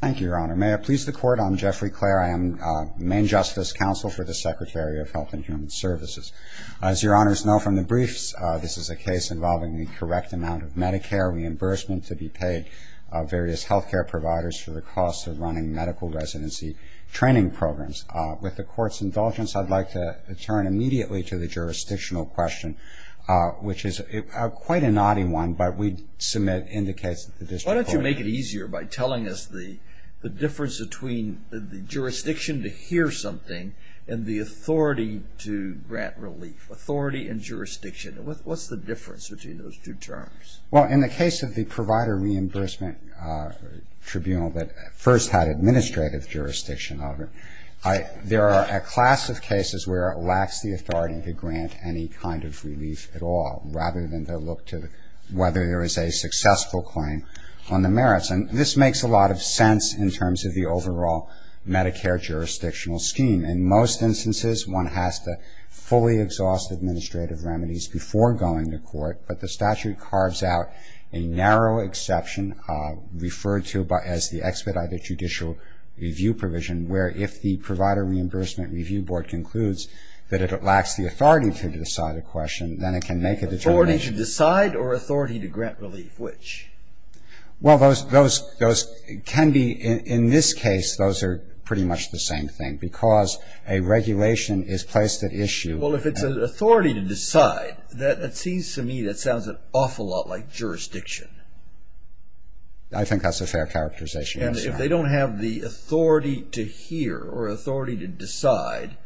Thank you, Your Honor. May it please the Court, I'm Jeffrey Clare. I am the Main Justice Counsel for the Secretary of Health and Human Services. As Your Honors know from the briefs, this is a case involving the correct amount of Medicare reimbursement to be paid by various health care providers for the cost of running medical residency training programs. With the Court's indulgence, I'd like to turn immediately to the jurisdictional question, which is quite a naughty one, but we'd submit indicates that the district court... the difference between the jurisdiction to hear something and the authority to grant relief. Authority and jurisdiction, what's the difference between those two terms? Well, in the case of the Provider Reimbursement Tribunal that first had administrative jurisdiction over, there are a class of cases where it lacks the authority to grant any kind of relief at all, rather than to look to whether there is a successful claim on the merits. And this makes a lot of sense in terms of the overall Medicare jurisdictional scheme. In most instances, one has to fully exhaust administrative remedies before going to court, but the statute carves out a narrow exception referred to as the expedited judicial review provision, where if the Provider Reimbursement Review Board concludes that it lacks the authority to decide a question, then it can make a determination... Authority to decide or authority to grant relief, which? Well, those can be, in this case, those are pretty much the same thing, because a regulation is placed at issue... Well, if it's an authority to decide, that seems to me that sounds an awful lot like jurisdiction. I think that's a fair characterization. And if they don't have the authority to hear or authority to decide,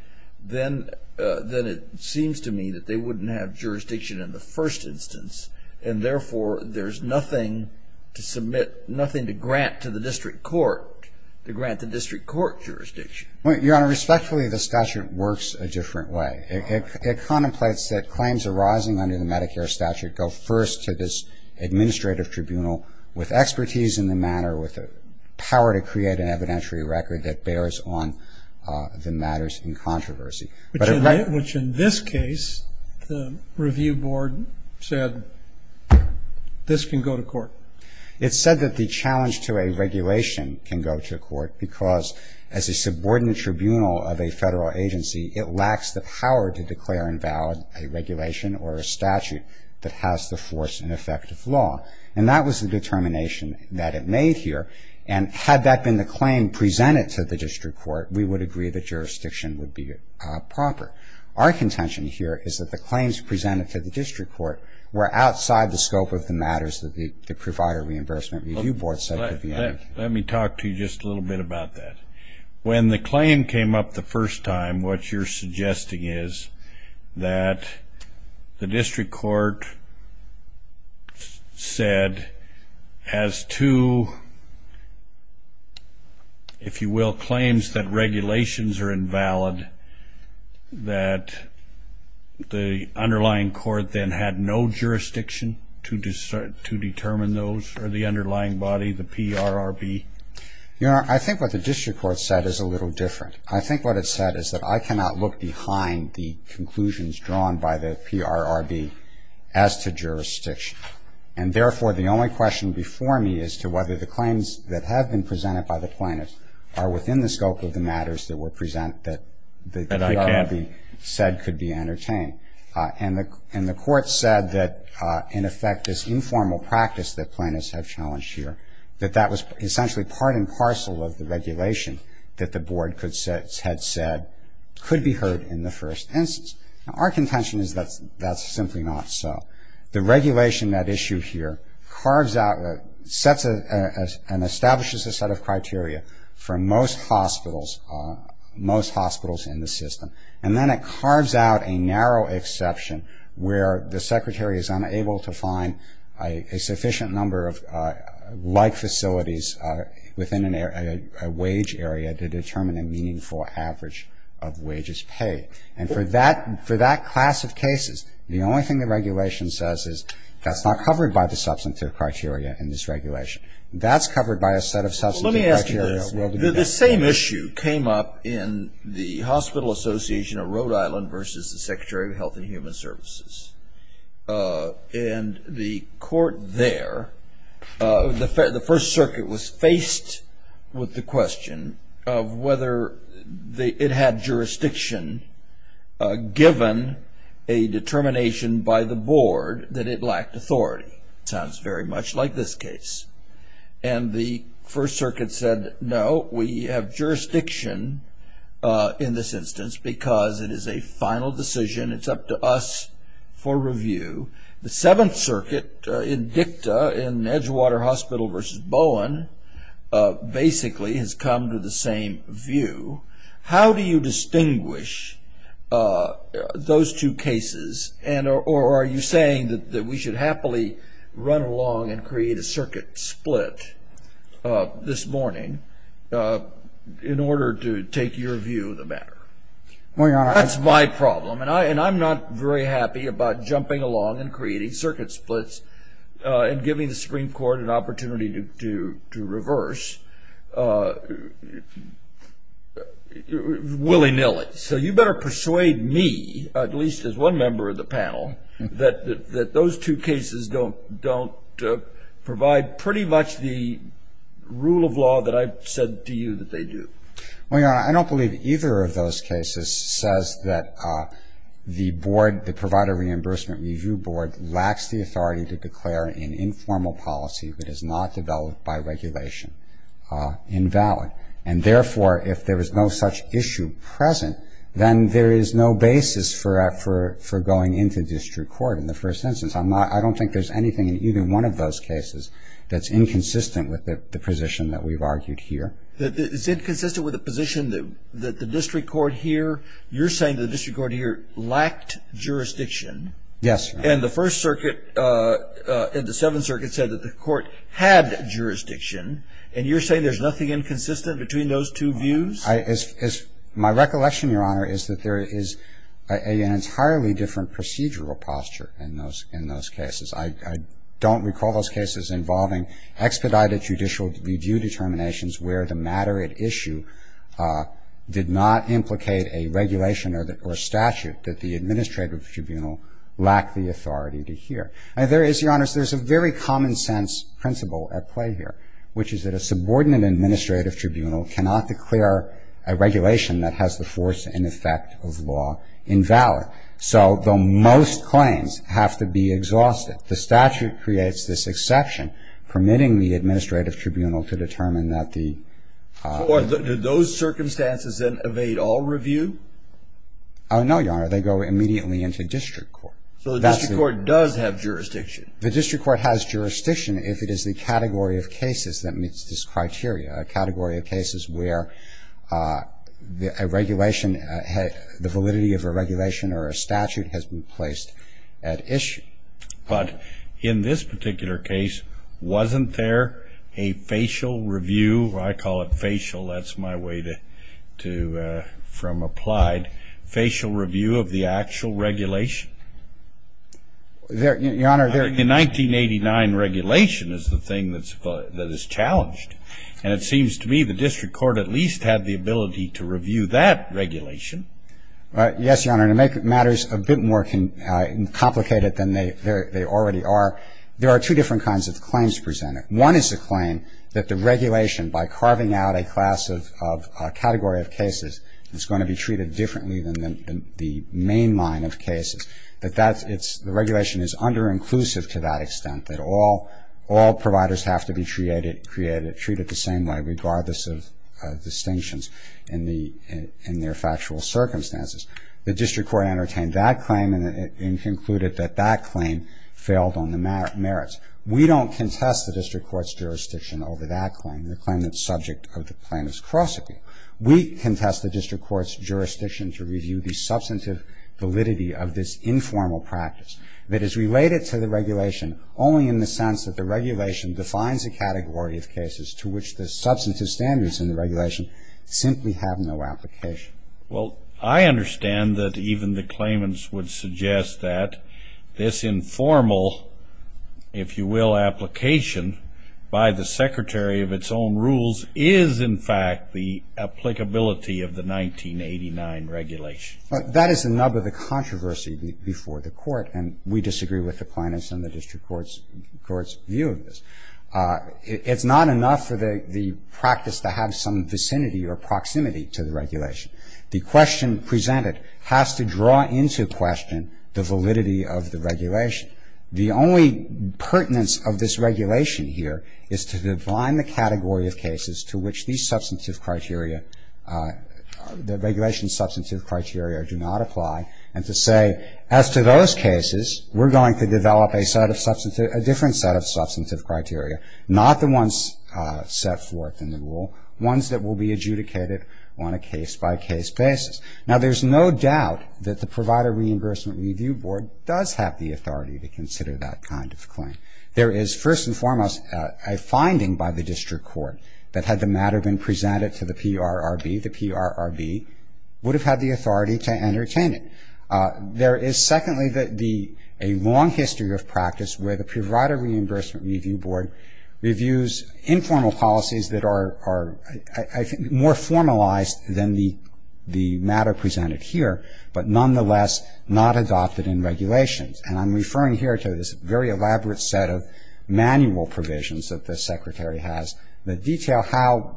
then it seems to me that they wouldn't have jurisdiction in the first instance, and therefore, there's nothing to submit, nothing to grant to the district court to grant the district court jurisdiction. Your Honor, respectfully, the statute works a different way. It contemplates that claims arising under the Medicare statute go first to this administrative tribunal with expertise in the matter, with the power to create an evidentiary record that bears on the matters in controversy. Which in this case, the Review Board said, this can go to court. It said that the challenge to a regulation can go to court, because as a subordinate tribunal of a federal agency, it lacks the power to declare invalid a regulation or a statute that has the force and effect of law. And that was the determination that it made here. And had that been the claim presented to the district court, we would agree that jurisdiction would be proper. Our contention here is that the claims presented to the district court were outside the scope of the matters that the Provider Reimbursement Review Board said could be under. Let me talk to you just a little bit about that. When the claim came up the first time, what you're suggesting is that the district court said has two, if you will, claims that regulations are invalid, that the underlying court then had no jurisdiction to determine those or the underlying body, the PRRB? Your Honor, I think what the district court said is a little different. I think what it said is that I cannot look behind the conclusions drawn by the PRRB as to jurisdiction. And therefore, the only question before me is to whether the claims that have been presented by the plaintiffs are within the scope of the matters that were presented that the PRRB said could be entertained. And the court said that, in effect, this informal practice that plaintiffs have challenged here, that that was essentially part and parcel of the regulation that the board had said could be heard in the first instance. Now, our contention is that that's simply not so. The regulation, that issue here, sets and establishes a set of criteria for most hospitals in the system. And then it carves out a narrow exception where the secretary is unable to find a sufficient number of like facilities within a wage area to determine a meaningful average of wages paid. And for that class of cases, the only thing the regulation says is, that's not covered by the substantive criteria in this regulation. That's covered by a set of substantive criteria. Let me ask you this. The same issue came up in the Hospital Association of Rhode Island versus the Secretary of Health and Human Services. And the court there, the First Circuit was faced with the question of whether it had jurisdiction given a determination by the board that it lacked authority. It sounds very much like this case. And the First Circuit said, no, we have jurisdiction in this instance because it is a final decision. It's up to us for review. The Seventh Circuit in DICTA, in Edgewater Hospital versus Bowen, basically has come to the same view. How do you distinguish those two cases? Or are you saying that we should happily run along and create a circuit split this morning in order to take your view of the matter? That's my problem. And I'm not very happy about jumping along and creating circuit splits and giving the Supreme Court an opportunity to reverse willy-nilly. So you better persuade me, at least as one member of the panel, that those two cases don't provide pretty much the rule of law that I've said to you that they do. Well, Your Honor, I don't believe either of those cases says that the board, the Provider Reimbursement Review Board, lacks the authority to declare an informal policy that is not developed by regulation invalid. And therefore, if there is no such issue present, then there is no basis for going into district court in the first instance. I don't think there's anything in either one of those cases that's inconsistent with the position that we've argued here. It's inconsistent with the position that the district court here, you're saying the district court here lacked jurisdiction. Yes, Your Honor. And the First Circuit and the Seventh Circuit said that the court had jurisdiction. And you're saying there's nothing inconsistent between those two views? My recollection, Your Honor, is that there is an entirely different procedural posture in those cases. I don't recall those cases involving expedited judicial review determinations where the matter at issue did not implicate a regulation or statute that the administrative tribunal lacked the authority to hear. And there is, Your Honor, there's a very common-sense principle at play here, which is that a subordinate administrative tribunal cannot declare a regulation that has the force and effect of law invalid. So the most claims have to be exhausted. The statute creates this exception permitting the administrative tribunal to determine that the ---- Or do those circumstances then evade all review? Oh, no, Your Honor. They go immediately into district court. So the district court does have jurisdiction. The district court has jurisdiction if it is the category of cases that meets this criteria, a category of cases where a regulation, the validity of a regulation or a statute has been placed at issue. But in this particular case, wasn't there a facial review? I call it facial. That's my way to ---- from applied. Facial review of the actual regulation. Your Honor, there ---- The 1989 regulation is the thing that is challenged. And it seems to me the district court at least had the ability to review that regulation. Yes, Your Honor, to make matters a bit more complicated than they already are, there are two different kinds of claims presented. One is the claim that the regulation, by carving out a class of category of cases, is going to be treated differently than the main line of cases, that the regulation is underinclusive to that extent, that all providers have to be treated the same way regardless of distinctions in their factual circumstances. The district court entertained that claim and concluded that that claim failed on the merits. We don't contest the district court's jurisdiction over that claim, the claim that's subject of the plaintiff's cross-examination. We contest the district court's jurisdiction to review the substantive validity of this informal practice that is related to the regulation only in the sense that the regulation defines a category of cases to which the substantive standards in the regulation simply have no application. Well, I understand that even the claimants would suggest that this informal, if you will, application by the secretary of its own rules is in fact the applicability of the 1989 regulation. That is another of the controversies before the court, and we disagree with the plaintiff's and the district court's view of this. It's not enough for the practice to have some vicinity or proximity to the regulation. The question presented has to draw into question the validity of the regulation. The only pertinence of this regulation here is to define the category of cases to which these substantive criteria, the regulation's substantive criteria do not apply, and to say, as to those cases, we're going to develop a different set of substantive criteria, not the ones set forth in the rule, ones that will be adjudicated on a case-by-case basis. Now, there's no doubt that the Provider Reimbursement Review Board does have the authority to consider that kind of claim. There is, first and foremost, a finding by the district court that had the matter been presented to the PRRB, the PRRB would have had the authority to entertain it. There is, secondly, a long history of practice where the Provider Reimbursement Review Board reviews informal policies that are, I think, more formalized than the matter presented here, but nonetheless not adopted in regulations. And I'm referring here to this very elaborate set of manual provisions that the Secretary has that detail how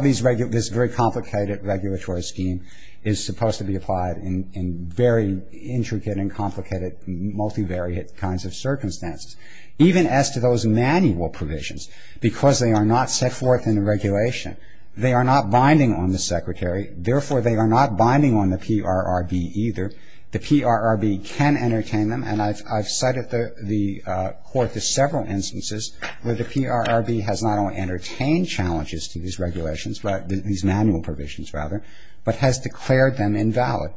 this very complicated regulatory scheme is supposed to be applied in very intricate and complicated multivariate kinds of circumstances. Even as to those manual provisions, because they are not set forth in the regulation, they are not binding on the Secretary. Therefore, they are not binding on the PRRB either. The PRRB can entertain them, and I've cited the court to several instances where the PRRB has not only entertained challenges to these regulations, these manual provisions, rather, but has declared them invalid.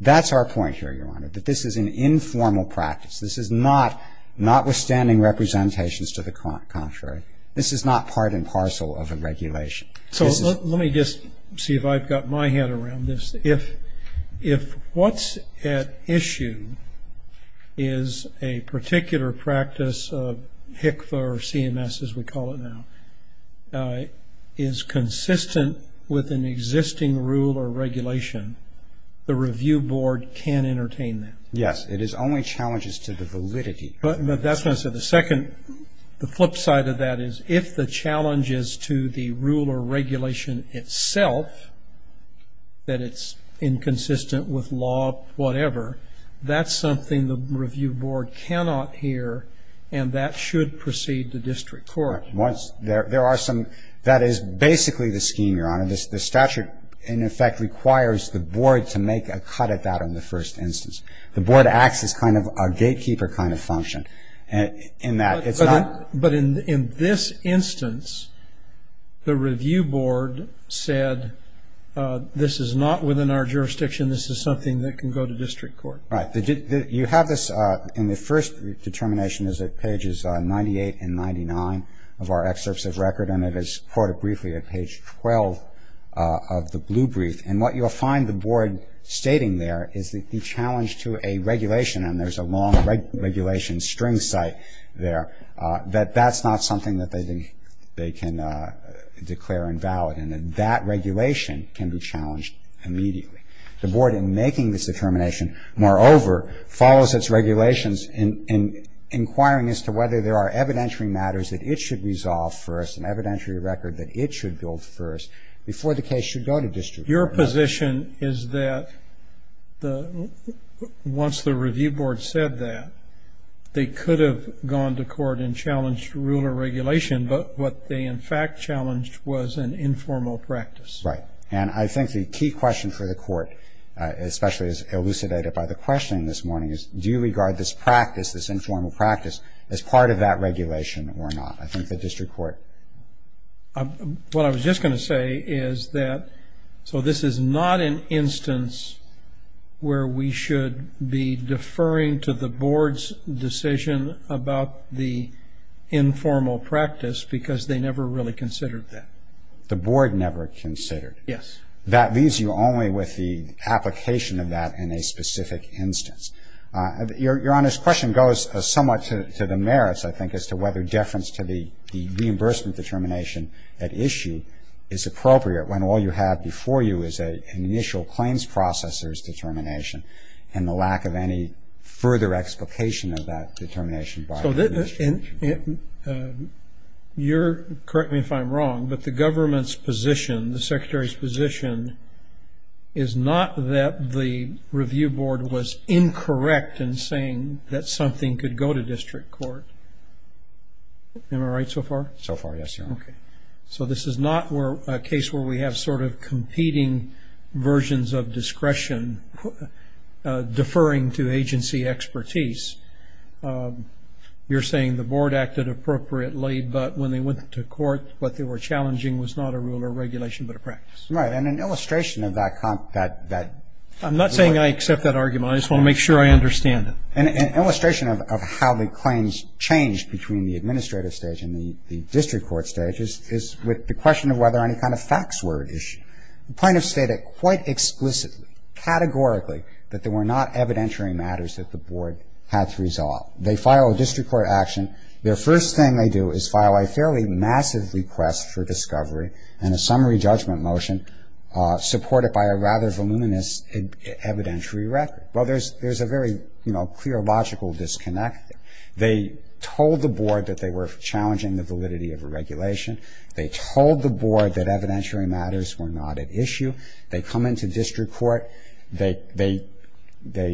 That's our point here, Your Honor, that this is an informal practice. This is not withstanding representations to the contrary. This is not part and parcel of a regulation. So let me just see if I've got my head around this. If what's at issue is a particular practice of HCFA or CMS, as we call it now, is consistent with an existing rule or regulation, the review board can entertain that. Yes. It is only challenges to the validity. But that's what I said. The second, the flip side of that is if the challenge is to the rule or regulation itself, that it's inconsistent with law, whatever, that's something the review board cannot hear, and that should proceed to district court. Once there are some, that is basically the scheme, Your Honor. The statute, in effect, requires the board to make a cut at that on the first instance. The board acts as kind of a gatekeeper kind of function in that it's not. But in this instance, the review board said this is not within our jurisdiction. This is something that can go to district court. Right. You have this in the first determination is at pages 98 and 99 of our excerpts of record, and it is quoted briefly at page 12 of the blue brief. And what you'll find the board stating there is that the challenge to a regulation, and there's a long regulation string site there, that that's not something that they think they can declare invalid, and that that regulation can be challenged immediately. The board, in making this determination, moreover, follows its regulations in inquiring as to whether there are evidentiary matters that it should resolve first, an evidentiary record that it should build first, before the case should go to district court. Your position is that once the review board said that, they could have gone to court and challenged rule or regulation, but what they, in fact, challenged was an informal practice. Right. And I think the key question for the court, especially as elucidated by the questioning this morning, is do you regard this practice, this informal practice, as part of that regulation or not? I think the district court. What I was just going to say is that so this is not an instance where we should be deferring to the board's decision about the informal practice because they never really considered that. The board never considered. Yes. That leaves you only with the application of that in a specific instance. Your Honor's question goes somewhat to the merits, I think, as to whether deference to the reimbursement determination at issue is appropriate when all you have before you is an initial claims processor's determination and the lack of any further explication of that determination by the district court. You'll correct me if I'm wrong, but the government's position, the Secretary's position is not that the review board was incorrect in saying that something could go to district court. Am I right so far? So far, yes, Your Honor. Okay. So this is not a case where we have sort of competing versions of discretion deferring to agency expertise. You're saying the board acted appropriately, but when they went to court, what they were challenging was not a rule or regulation but a practice. Right, and an illustration of that. I'm not saying I accept that argument. I just want to make sure I understand it. An illustration of how the claims changed between the administrative stage and the district court stage is with the question of whether any kind of facts were at issue. The plaintiffs stated quite explicitly, categorically, that there were not evidentiary matters that the board had to resolve. They file a district court action. Their first thing they do is file a fairly massive request for discovery and a summary judgment motion supported by a rather voluminous evidentiary record. Well, there's a very, you know, clear logical disconnect there. They told the board that they were challenging the validity of a regulation. They told the board that evidentiary matters were not at issue. They come into district court. They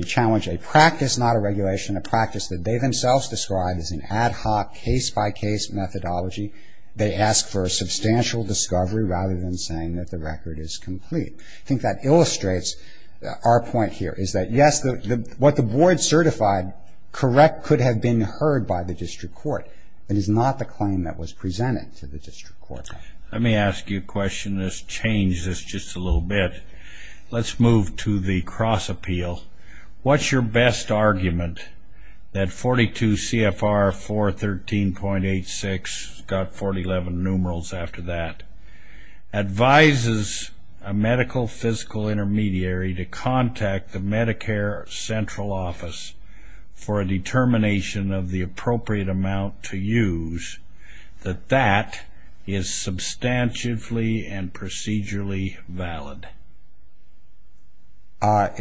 challenge a practice, not a regulation, a practice that they themselves described as an ad hoc case-by-case methodology. They ask for a substantial discovery rather than saying that the record is complete. I think that illustrates our point here is that, yes, what the board certified correct could have been heard by the district court. It is not the claim that was presented to the district court. Let me ask you a question that's changed this just a little bit. Let's move to the cross appeal. What's your best argument that 42 CFR 413.86, got 411 numerals after that, advises a medical physical intermediary to contact the Medicare central office for a determination of the appropriate amount to use, that that is substantively and procedurally valid? Let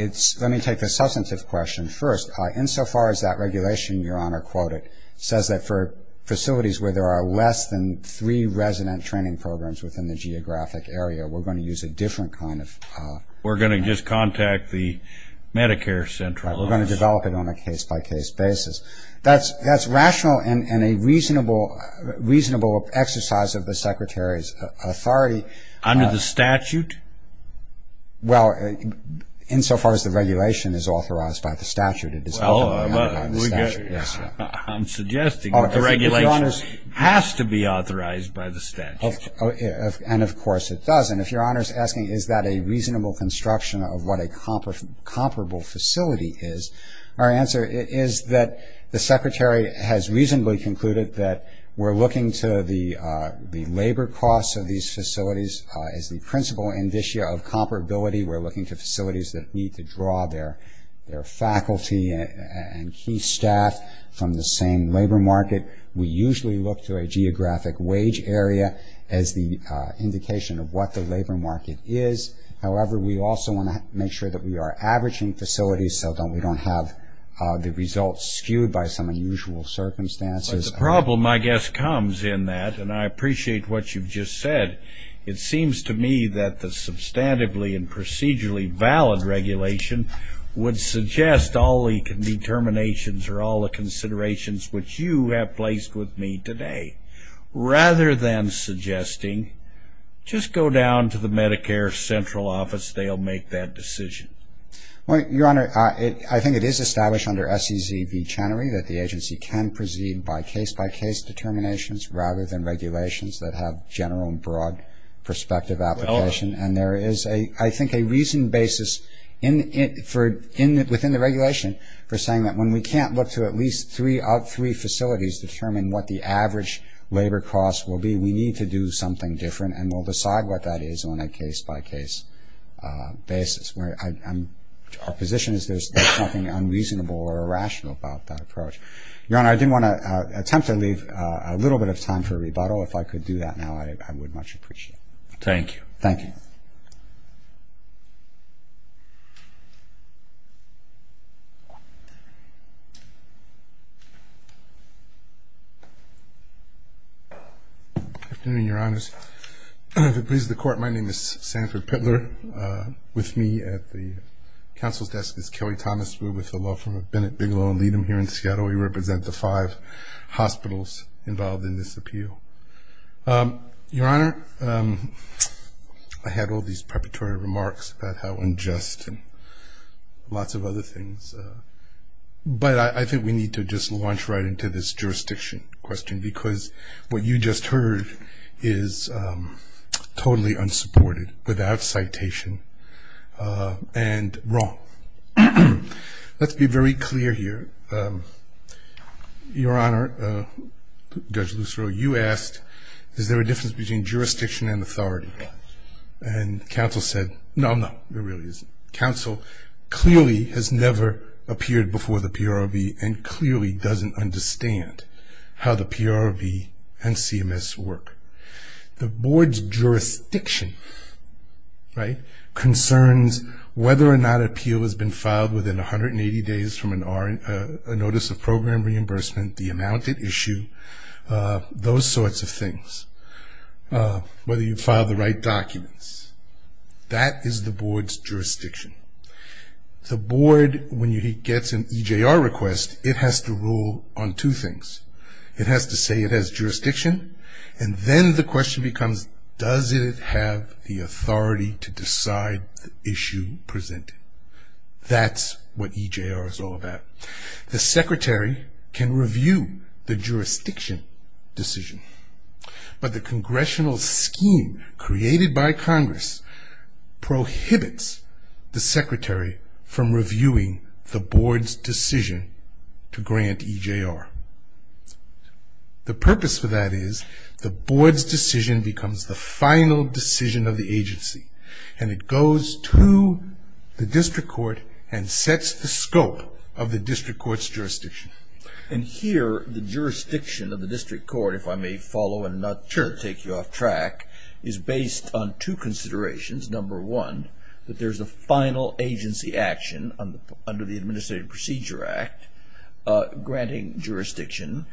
me take the substantive question first. Insofar as that regulation, Your Honor, quoted, says that for facilities where there are less than three resident training programs within the geographic area, we're going to use a different kind of We're going to just contact the Medicare central office. We're going to develop it on a case-by-case basis. That's rational and a reasonable exercise of the secretary's authority. Under the statute? Well, insofar as the regulation is authorized by the statute. I'm suggesting the regulation has to be authorized by the statute. And, of course, it does. And if Your Honor is asking is that a reasonable construction of what a comparable facility is, our answer is that the secretary has reasonably concluded that we're looking to facilities as the principal indicia of comparability. We're looking to facilities that need to draw their faculty and key staff from the same labor market. We usually look to a geographic wage area as the indication of what the labor market is. However, we also want to make sure that we are averaging facilities so that we don't have the results skewed by some unusual circumstances. The problem, I guess, comes in that, and I appreciate what you've just said, it seems to me that the substantively and procedurally valid regulation would suggest all the determinations or all the considerations which you have placed with me today. Rather than suggesting, just go down to the Medicare central office. They'll make that decision. Well, Your Honor, I think it is established under SEC v. Medicare that there are case-by-case determinations rather than regulations that have general and broad perspective application. And there is, I think, a reasoned basis within the regulation for saying that when we can't look to at least three out of three facilities to determine what the average labor cost will be, we need to do something different and we'll decide what that is on a case-by-case basis. Our position is there's nothing unreasonable or irrational about that approach. Your Honor, I do want to attempt to leave a little bit of time for a rebuttal. If I could do that now, I would much appreciate it. Thank you. Thank you. Good afternoon, Your Honors. If it pleases the Court, my name is Sanford Pittler. With me at the counsel's desk is Kelly Thomas. We're with the law firm of Bennett, Bigelow, and Leadham here in Seattle. We represent the five hospitals involved in this appeal. Your Honor, I had all these preparatory remarks about how unjust and lots of other things. But I think we need to just launch right into this jurisdiction question, because what you just heard is totally unsupported, without citation, and wrong. Let's be very clear here. Your Honor, Judge Lucero, you asked, is there a difference between jurisdiction and authority? And counsel said, no, no, there really isn't. Counsel clearly has never appeared before the PROB and clearly doesn't understand how the PROB and CMS work. The board's jurisdiction concerns whether or not an appeal has been filed within 180 days from a notice of program reimbursement, the amount at issue, those sorts of things, whether you filed the right documents. That is the board's jurisdiction. The board, when it gets an EJR request, it has to rule on two things. It has to say it has jurisdiction, and then the question becomes, does it have the authority to decide the issue presented? That's what EJR is all about. The secretary can review the jurisdiction decision, but the congressional scheme created by Congress prohibits the secretary from reviewing the board's decision to grant EJR. The purpose for that is the board's decision becomes the final decision of the agency, and it goes to the district court and sets the scope of the district court's jurisdiction. Here, the jurisdiction of the district court, if I may follow and not take you off track, is based on two considerations. Number one, that there's a final agency action under the Administrative Procedure Act granting jurisdiction.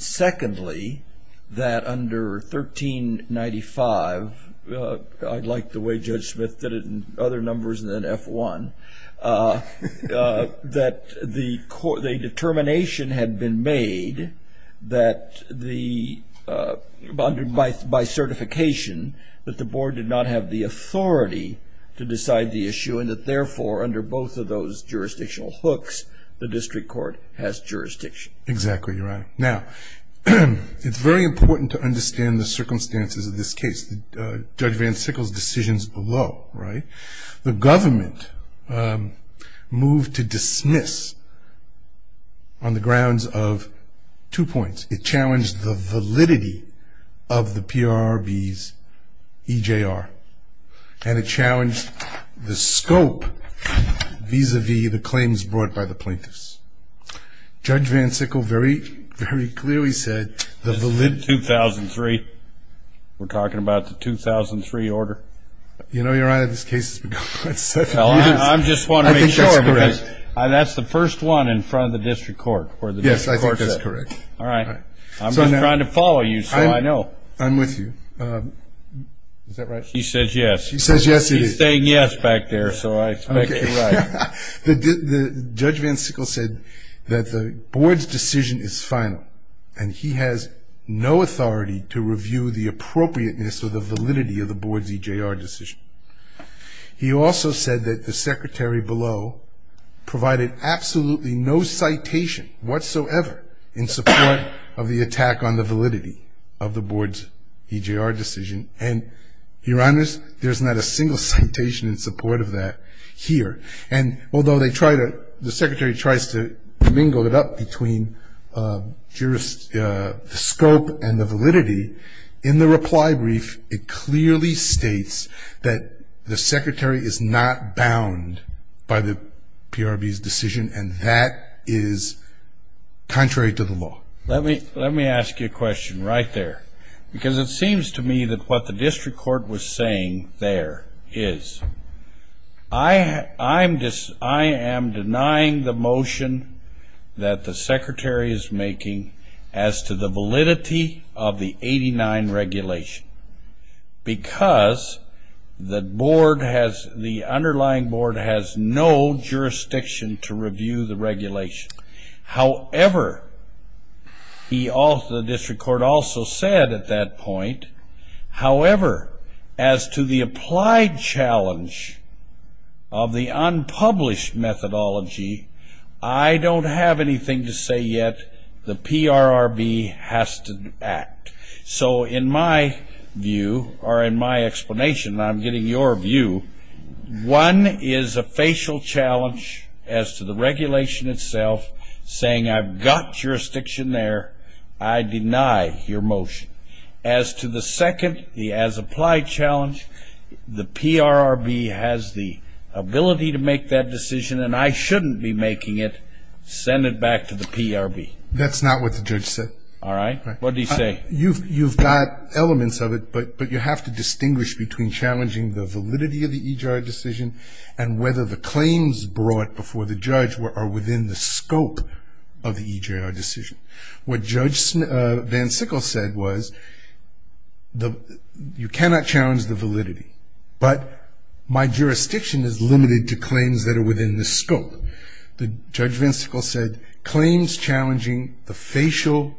Secondly, that under 1395, I like the way Judge Smith did it in other numbers than F1, that the determination had been made by certification that the board did not have the authority to decide the issue, and that therefore under both of those jurisdictional hooks, the district court has jurisdiction. Exactly, Your Honor. Now, it's very important to understand the circumstances of this case, Judge Van Sickle's decisions below, right? The government moved to dismiss on the grounds of two points. It challenged the validity of the PRRB's EJR, and it challenged the scope vis-a-vis the claims brought by the plaintiffs. Judge Van Sickle very clearly said the valid... 2003. We're talking about the 2003 order. You know, Your Honor, this case has been going on for seven years. I just want to make sure, because that's the first one in front of the district court. Yes, I think that's correct. All right. I'm just trying to follow you, so I know. I'm with you. Is that right? He says yes. He says yes, he is. He's saying yes back there, so I expect you're right. Judge Van Sickle said that the board's decision is final, and he has no authority to review the appropriateness or the validity of the board's EJR decision. He also said that the secretary below provided absolutely no citation whatsoever in support of the attack on the validity of the board's EJR decision, and, Your Honor, there's not a single citation in support of that here. And although the secretary tries to mingle it up between the scope and the validity, in the reply brief it clearly states that the secretary is not bound by the PRB's decision, and that is contrary to the law. Let me ask you a question right there, because it seems to me that what the district court was saying there is. I am denying the motion that the secretary is making as to the validity of the 89 regulation, because the underlying board has no jurisdiction to review the regulation. However, the district court also said at that point, However, as to the applied challenge of the unpublished methodology, I don't have anything to say yet. The PRRB has to act. So in my view, or in my explanation, and I'm getting your view, one is a facial challenge as to the regulation itself, saying I've got jurisdiction there. I deny your motion. As to the second, the as applied challenge, the PRRB has the ability to make that decision, and I shouldn't be making it. Send it back to the PRB. That's not what the judge said. All right. What did he say? You've got elements of it, but you have to distinguish between challenging the validity of the EJR decision and whether the claims brought before the judge are within the scope of the EJR decision. What Judge Van Sickle said was you cannot challenge the validity, but my jurisdiction is limited to claims that are within the scope. Judge Van Sickle said claims challenging the facial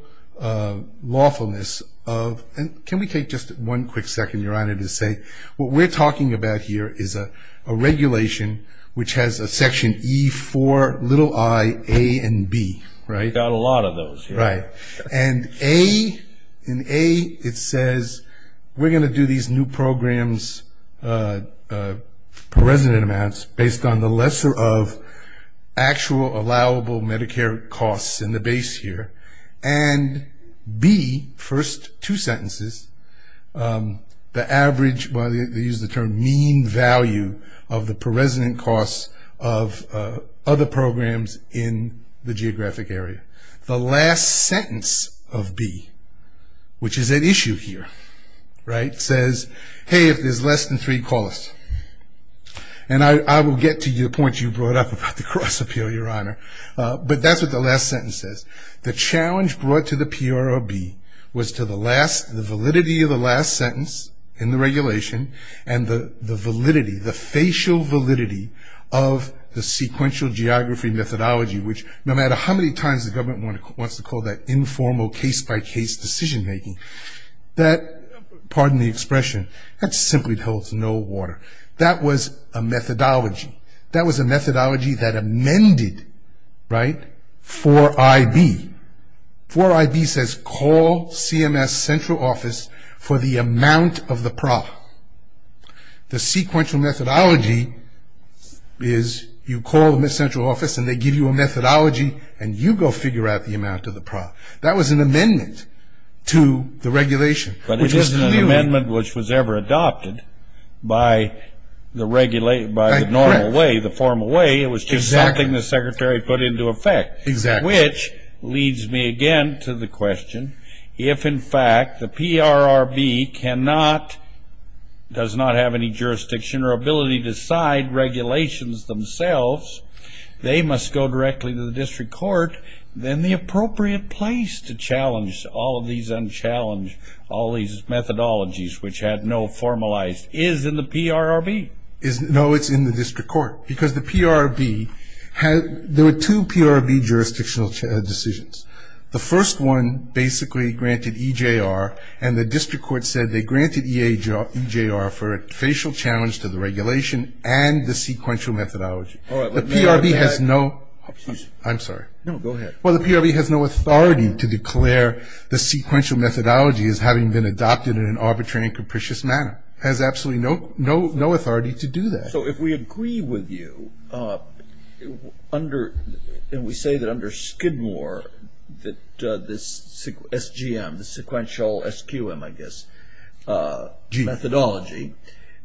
lawfulness of, and can we take just one quick second, Your Honor, to say what we're talking about here is a regulation which has a section E4, little I, A, and B, right? We've got a lot of those. Right. And A, in A it says we're going to do these new programs per resident amounts based on the lesser of actual allowable Medicare costs in the base here, and B, first two sentences, the average, well, they use the term mean value of the per resident costs of other programs in the geographic area. The last sentence of B, which is at issue here, right, says, hey, if there's less than three, call us. And I will get to the point you brought up about the cross appeal, Your Honor, but that's what the last sentence says. The challenge brought to the PROB was to the validity of the last sentence in the regulation and the validity, the facial validity of the sequential geography methodology, which no matter how many times the government wants to call that informal case-by-case decision making, that, pardon the expression, that simply holds no water. That was a methodology. That was a methodology that amended, right, for I.B. For I.B. says call CMS central office for the amount of the PROB. The sequential methodology is you call the central office and they give you a methodology and you go figure out the amount of the PROB. That was an amendment to the regulation. But it isn't an amendment which was ever adopted by the normal way, the formal way. It was just something the secretary put into effect, which leads me again to the question, if, in fact, the PROB does not have any jurisdiction or ability to decide regulations themselves, they must go directly to the district court, then the appropriate place to challenge all of these and then challenge all of these methodologies, which had no formalized, is in the PROB? No, it's in the district court. Because the PROB had, there were two PROB jurisdictional decisions. The first one basically granted EJR and the district court said they granted EJR for a facial challenge to the regulation and the sequential methodology. The PROB has no, I'm sorry. No, go ahead. Well, the PROB has no authority to declare the sequential methodology as having been adopted in an arbitrary and capricious manner. It has absolutely no authority to do that. So if we agree with you, and we say that under Skidmore that this SGM, the sequential SQM, I guess, methodology,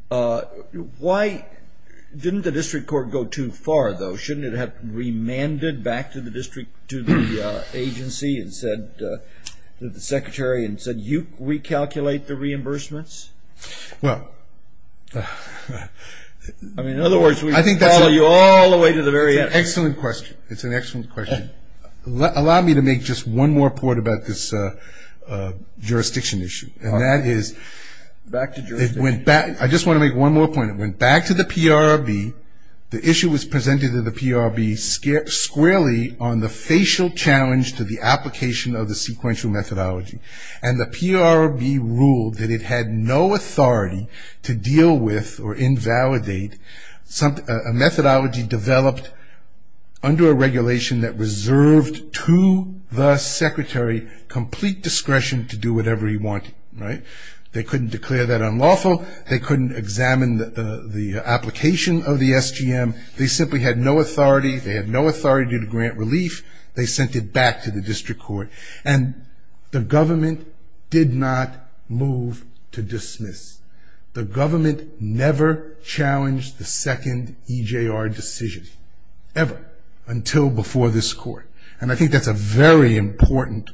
why didn't the district court go too far, though? Didn't it have to be remanded back to the district, to the agency and said, to the secretary and said, you recalculate the reimbursements? Well. I mean, in other words, we follow you all the way to the very end. It's an excellent question. It's an excellent question. Allow me to make just one more point about this jurisdiction issue. And that is, it went back, I just want to make one more point. It went back to the PROB. The issue was presented to the PROB squarely on the facial challenge to the application of the sequential methodology. And the PROB ruled that it had no authority to deal with or invalidate a methodology developed under a regulation that reserved to the secretary complete discretion to do whatever he wanted. Right? They couldn't declare that unlawful. They couldn't examine the application of the SGM. They simply had no authority. They had no authority to grant relief. They sent it back to the district court. And the government did not move to dismiss. The government never challenged the second EJR decision, ever, until before this court. And I think that's a very important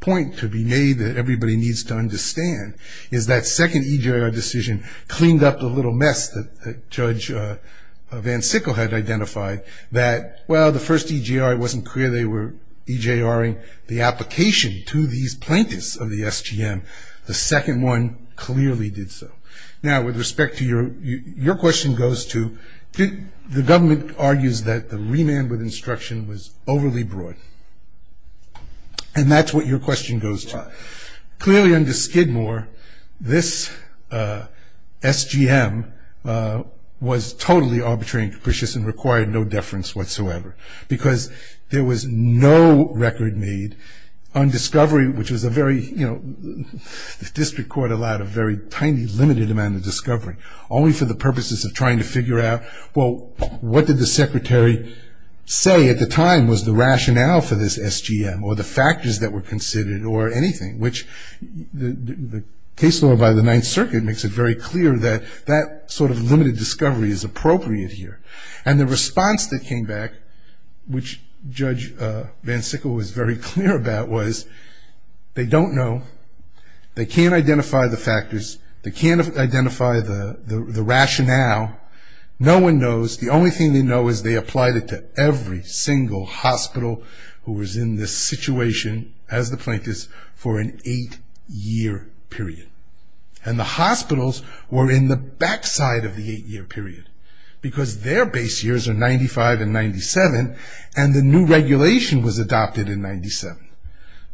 point to be made that everybody needs to understand, is that second EJR decision cleaned up the little mess that Judge Van Sickle had identified. That, well, the first EJR, it wasn't clear they were EJRing the application to these plaintiffs of the SGM. The second one clearly did so. Now, with respect to your question goes to, the government argues that the remand with instruction was overly broad. And that's what your question goes to. Clearly, under Skidmore, this SGM was totally arbitrary and capricious and required no deference whatsoever because there was no record made on discovery, which was a very, you know, the district court allowed a very tiny, limited amount of discovery, only for the purposes of trying to figure out, well, what did the secretary say at the time was the rationale for this SGM or the factors that were considered or anything, which the case law by the Ninth Circuit makes it very clear that that sort of limited discovery is appropriate here. And the response that came back, which Judge Van Sickle was very clear about, was they don't know. They can't identify the factors. They can't identify the rationale. No one knows. The only thing they know is they applied it to every single hospital who was in this situation, as the plaintiffs, for an eight-year period. And the hospitals were in the backside of the eight-year period because their base years are 95 and 97, and the new regulation was adopted in 97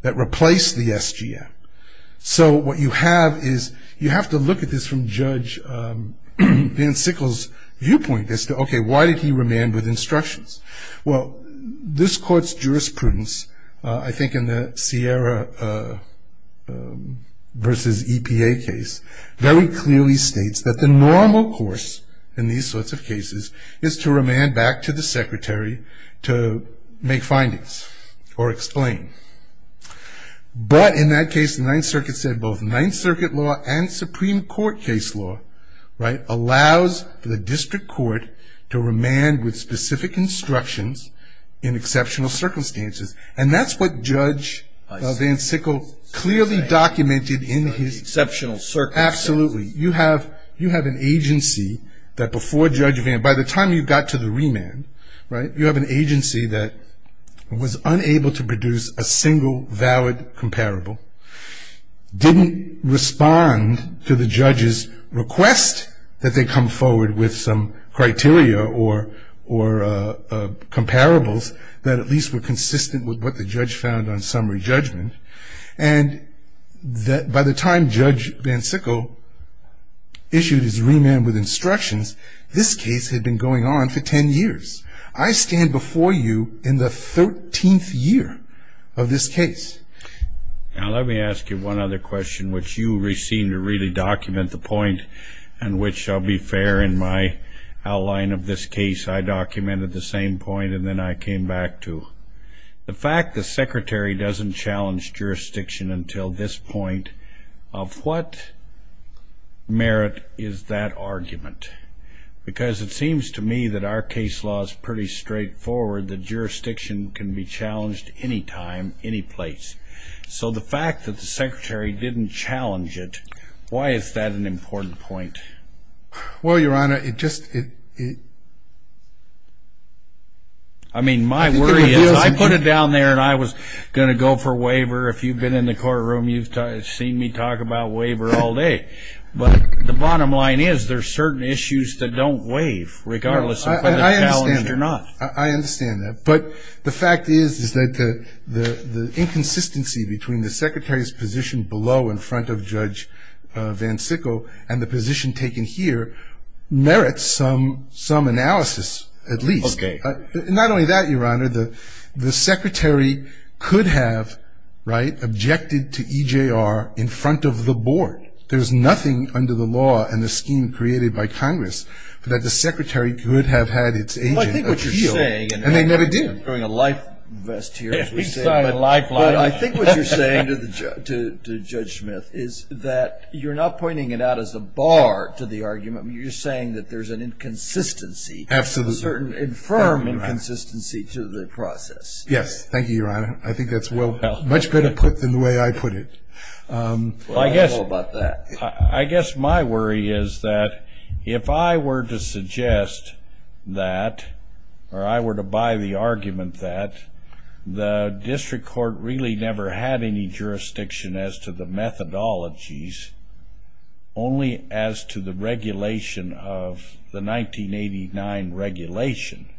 that replaced the SGM. So what you have is you have to look at this from Judge Van Sickle's viewpoint as to, okay, why did he remand with instructions? Well, this court's jurisprudence, I think in the Sierra versus EPA case, very clearly states that the normal course in these sorts of cases is to remand back to the secretary to make findings or explain. But in that case, the Ninth Circuit said both Ninth Circuit law and Supreme Court case law, right, allows the district court to remand with specific instructions in exceptional circumstances. And that's what Judge Van Sickle clearly documented in his... Exceptional circumstances. Absolutely. You have an agency that before Judge Van, by the time you got to the remand, right, you have an agency that was unable to produce a single valid comparable, didn't respond to the judge's request that they come forward with some criteria or comparables that at least were consistent with what the judge found on summary judgment. And by the time Judge Van Sickle issued his remand with instructions, this case had been going on for 10 years. I stand before you in the 13th year of this case. Now, let me ask you one other question, which you seem to really document the point, and which shall be fair in my outline of this case. I documented the same point, and then I came back to the fact the secretary doesn't challenge jurisdiction until this point of what merit is that argument? Because it seems to me that our case law is pretty straightforward, that jurisdiction can be challenged any time, any place. So the fact that the secretary didn't challenge it, why is that an important point? Well, Your Honor, it just... I mean, my worry is I put it down there and I was going to go for waiver. If you've been in the courtroom, you've seen me talk about waiver all day. But the bottom line is there are certain issues that don't waive regardless of whether they're challenged or not. I understand that. But the fact is that the inconsistency between the secretary's position below in front of Judge Van Sickle and the position taken here merits some analysis at least. Okay. Not only that, Your Honor, the secretary could have, right, objected to EJR in front of the board. There's nothing under the law and the scheme created by Congress that the secretary could have had its agent appeal. Well, I think what you're saying... And they never did. We're throwing a life vest here, as we say. We saw a lifeline. Well, I think what you're saying to Judge Smith is that you're not pointing it out as a bar to the argument. You're saying that there's an inconsistency, a certain infirm inconsistency to the process. Yes. Thank you, Your Honor. I think that's much better put than the way I put it. I guess my worry is that if I were to suggest that, or I were to buy the argument that the district court really never had any jurisdiction as to the methodologies, only as to the regulation of the 1989 regulation,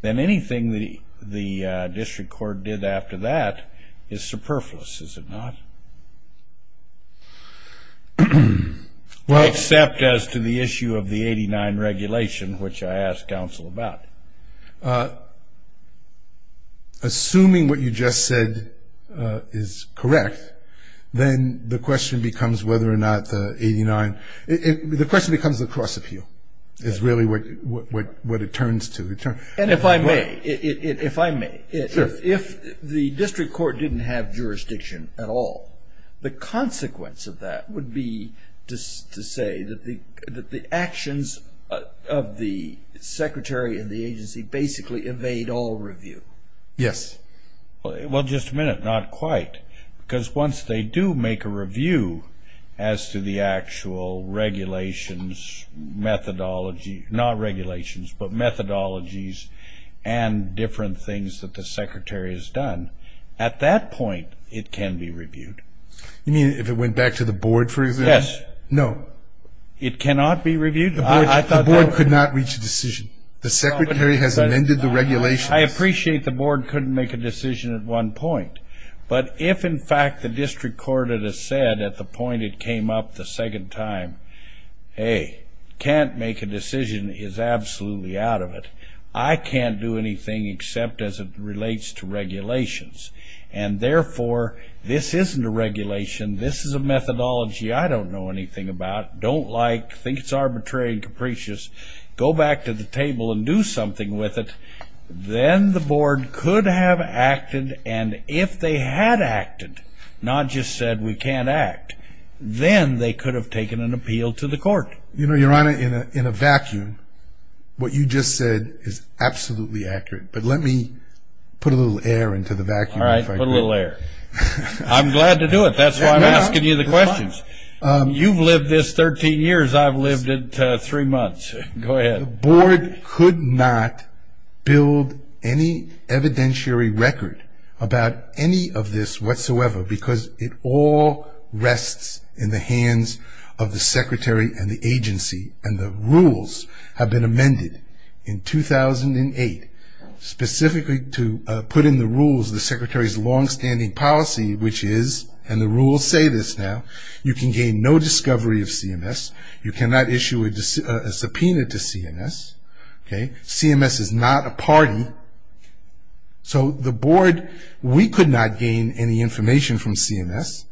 then anything the district court did after that is superfluous, is it not? Well... Except as to the issue of the 89 regulation, which I asked counsel about. Assuming what you just said is correct, then the question becomes whether or not the 89... The question becomes the cross-appeal is really what it turns to. And if I may, if I may. Sure. If the district court didn't have jurisdiction at all, the consequence of that would be to say that the actions of the secretary and the agency basically evade all review. Yes. Well, just a minute, not quite. Because once they do make a review as to the actual regulations, methodology, not regulations, but methodologies and different things that the secretary has done, at that point it can be reviewed. You mean if it went back to the board, for example? Yes. No. It cannot be reviewed? The board could not reach a decision. The secretary has amended the regulations. I appreciate the board couldn't make a decision at one point. But if, in fact, the district court had said at the point it came up the second time, hey, can't make a decision is absolutely out of it. I can't do anything except as it relates to regulations. And, therefore, this isn't a regulation. This is a methodology I don't know anything about, don't like, think it's arbitrary and capricious. Go back to the table and do something with it. Then the board could have acted. And if they had acted, not just said we can't act, then they could have taken an appeal to the court. You know, Your Honor, in a vacuum, what you just said is absolutely accurate. But let me put a little air into the vacuum. All right, put a little air. I'm glad to do it. That's why I'm asking you the questions. You've lived this 13 years. I've lived it three months. Go ahead. The board could not build any evidentiary record about any of this whatsoever because it all rests in the hands of the secretary and the agency. And the rules have been amended in 2008 specifically to put in the rules the secretary's longstanding policy, which is, and the rules say this now, you can gain no discovery of CMS. You cannot issue a subpoena to CMS. Okay? CMS is not a party. So the board, we could not gain any information from CMS.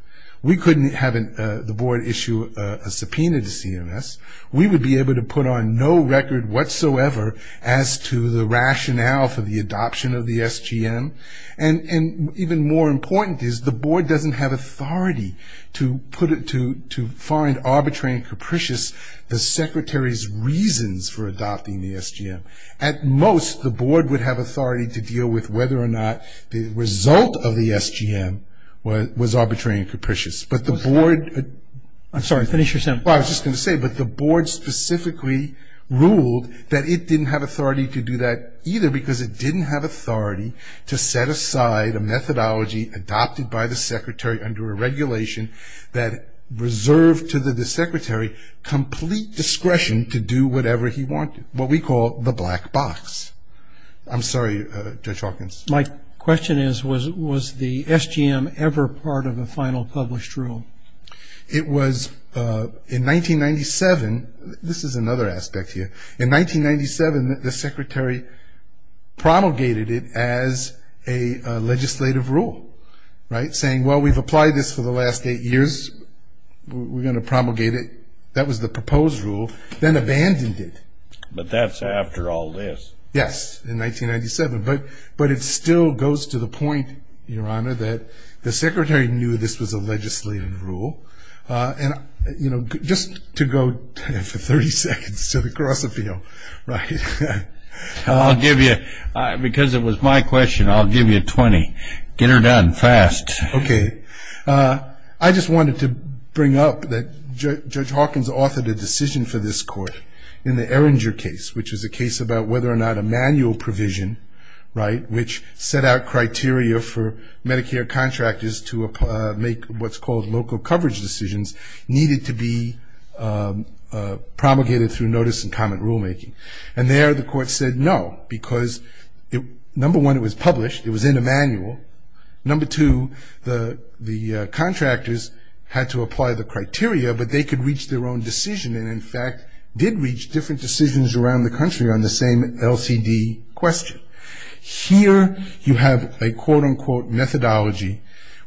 We couldn't have the board issue a subpoena to CMS. We would be able to put on no record whatsoever as to the rationale for the adoption of the SGM. And even more important is the board doesn't have authority to put it to find arbitrary and capricious the secretary's reasons for adopting the SGM. At most, the board would have authority to deal with whether or not the result of the SGM was arbitrary and capricious. But the board... I'm sorry, finish your sentence. Well, I was just going to say, but the board specifically ruled that it didn't have authority to do that either because it didn't have authority to set aside a methodology adopted by the secretary under a regulation that reserved to the secretary complete discretion to do whatever he wanted, what we call the black box. I'm sorry, Judge Hawkins. My question is, was the SGM ever part of a final published rule? It was in 1997. This is another aspect here. In 1997, the secretary promulgated it as a legislative rule, right, saying, well, we've applied this for the last eight years. We're going to promulgate it. That was the proposed rule, then abandoned it. But that's after all this. Yes, in 1997. But it still goes to the point, Your Honor, that the secretary knew this was a legislative rule. And, you know, just to go for 30 seconds to the cross appeal, right? I'll give you, because it was my question, I'll give you 20. Get her done, fast. Okay. I just wanted to bring up that Judge Hawkins authored a decision for this court in the Erringer case, which is a case about whether or not a manual provision, right, which set out criteria for Medicare contractors to make what's called local coverage decisions, needed to be promulgated through notice and comment rulemaking. And there the court said no, because, number one, it was published. It was in a manual. Number two, the contractors had to apply the criteria, but they could reach their own decision, and, in fact, did reach different decisions around the country on the same LCD question. Here you have a, quote, unquote, methodology,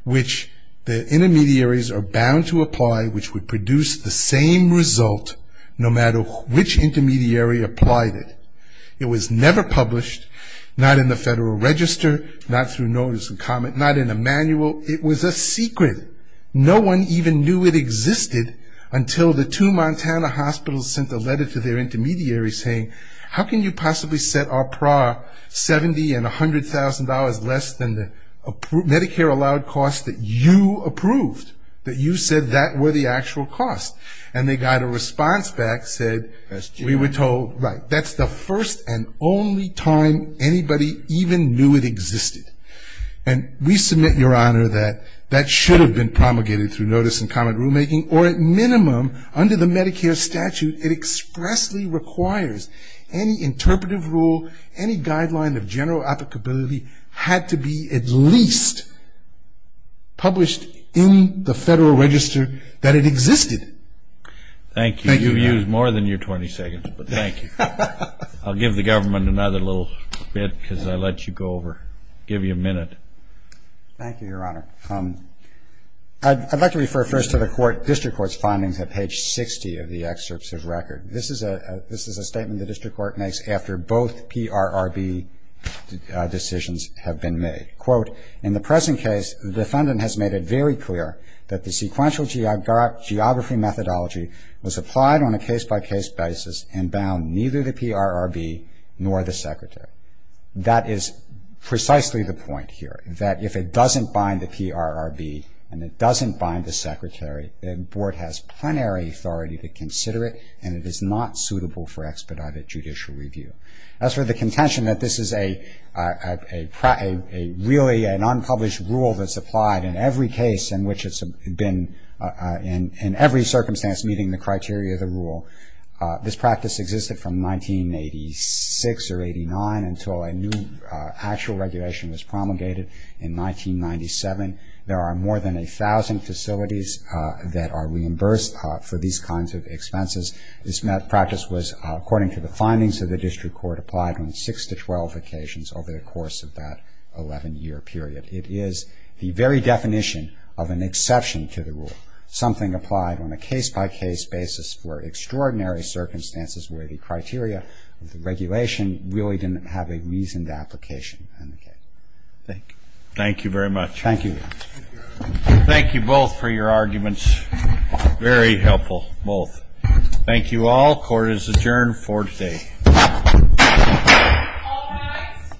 which the intermediaries are bound to apply, which would produce the same result no matter which intermediary applied it. It was never published, not in the Federal Register, not through notice and comment, not in a manual. It was a secret. No one even knew it existed until the two Montana hospitals sent a letter to their intermediaries saying, how can you possibly set our PRA $70,000 and $100,000 less than the Medicare-allowed costs that you approved, that you said that were the actual cost? And they got a response back that said we were told, right, that's the first and only time anybody even knew it existed. And we submit, Your Honor, that that should have been promulgated through notice and comment rulemaking, or at minimum, under the Medicare statute, it expressly requires any interpretive rule, any guideline of general applicability had to be at least published in the Federal Register that it existed. Thank you, Your Honor. You've used more than your 20 seconds, but thank you. I'll give the government another little bit because I let you go over, give you a minute. Thank you, Your Honor. I'd like to refer first to the District Court's findings at page 60 of the excerpt's record. This is a statement the District Court makes after both PRRB decisions have been made. Quote, in the present case, the defendant has made it very clear that the sequential geography methodology was applied on a case-by-case basis and bound neither the PRRB nor the Secretary. That is precisely the point here, that if it doesn't bind the PRRB and it doesn't bind the Secretary, the Board has plenary authority to consider it and it is not suitable for expedited judicial review. As for the contention that this is a really an unpublished rule that's applied in every case in which it's been in every circumstance meeting the criteria of the rule, this practice existed from 1986 or 89 until a new actual regulation was promulgated in 1997. There are more than 1,000 facilities that are reimbursed for these kinds of expenses. This practice was, according to the findings of the District Court, applied on six to 12 occasions over the course of that 11-year period. It is the very definition of an exception to the rule. Something applied on a case-by-case basis for extraordinary circumstances where the criteria of the regulation really didn't have a reason to application. Thank you. Thank you very much. Thank you. Thank you both for your arguments. Very helpful, both. Thank you all. Court is adjourned for today. All rise.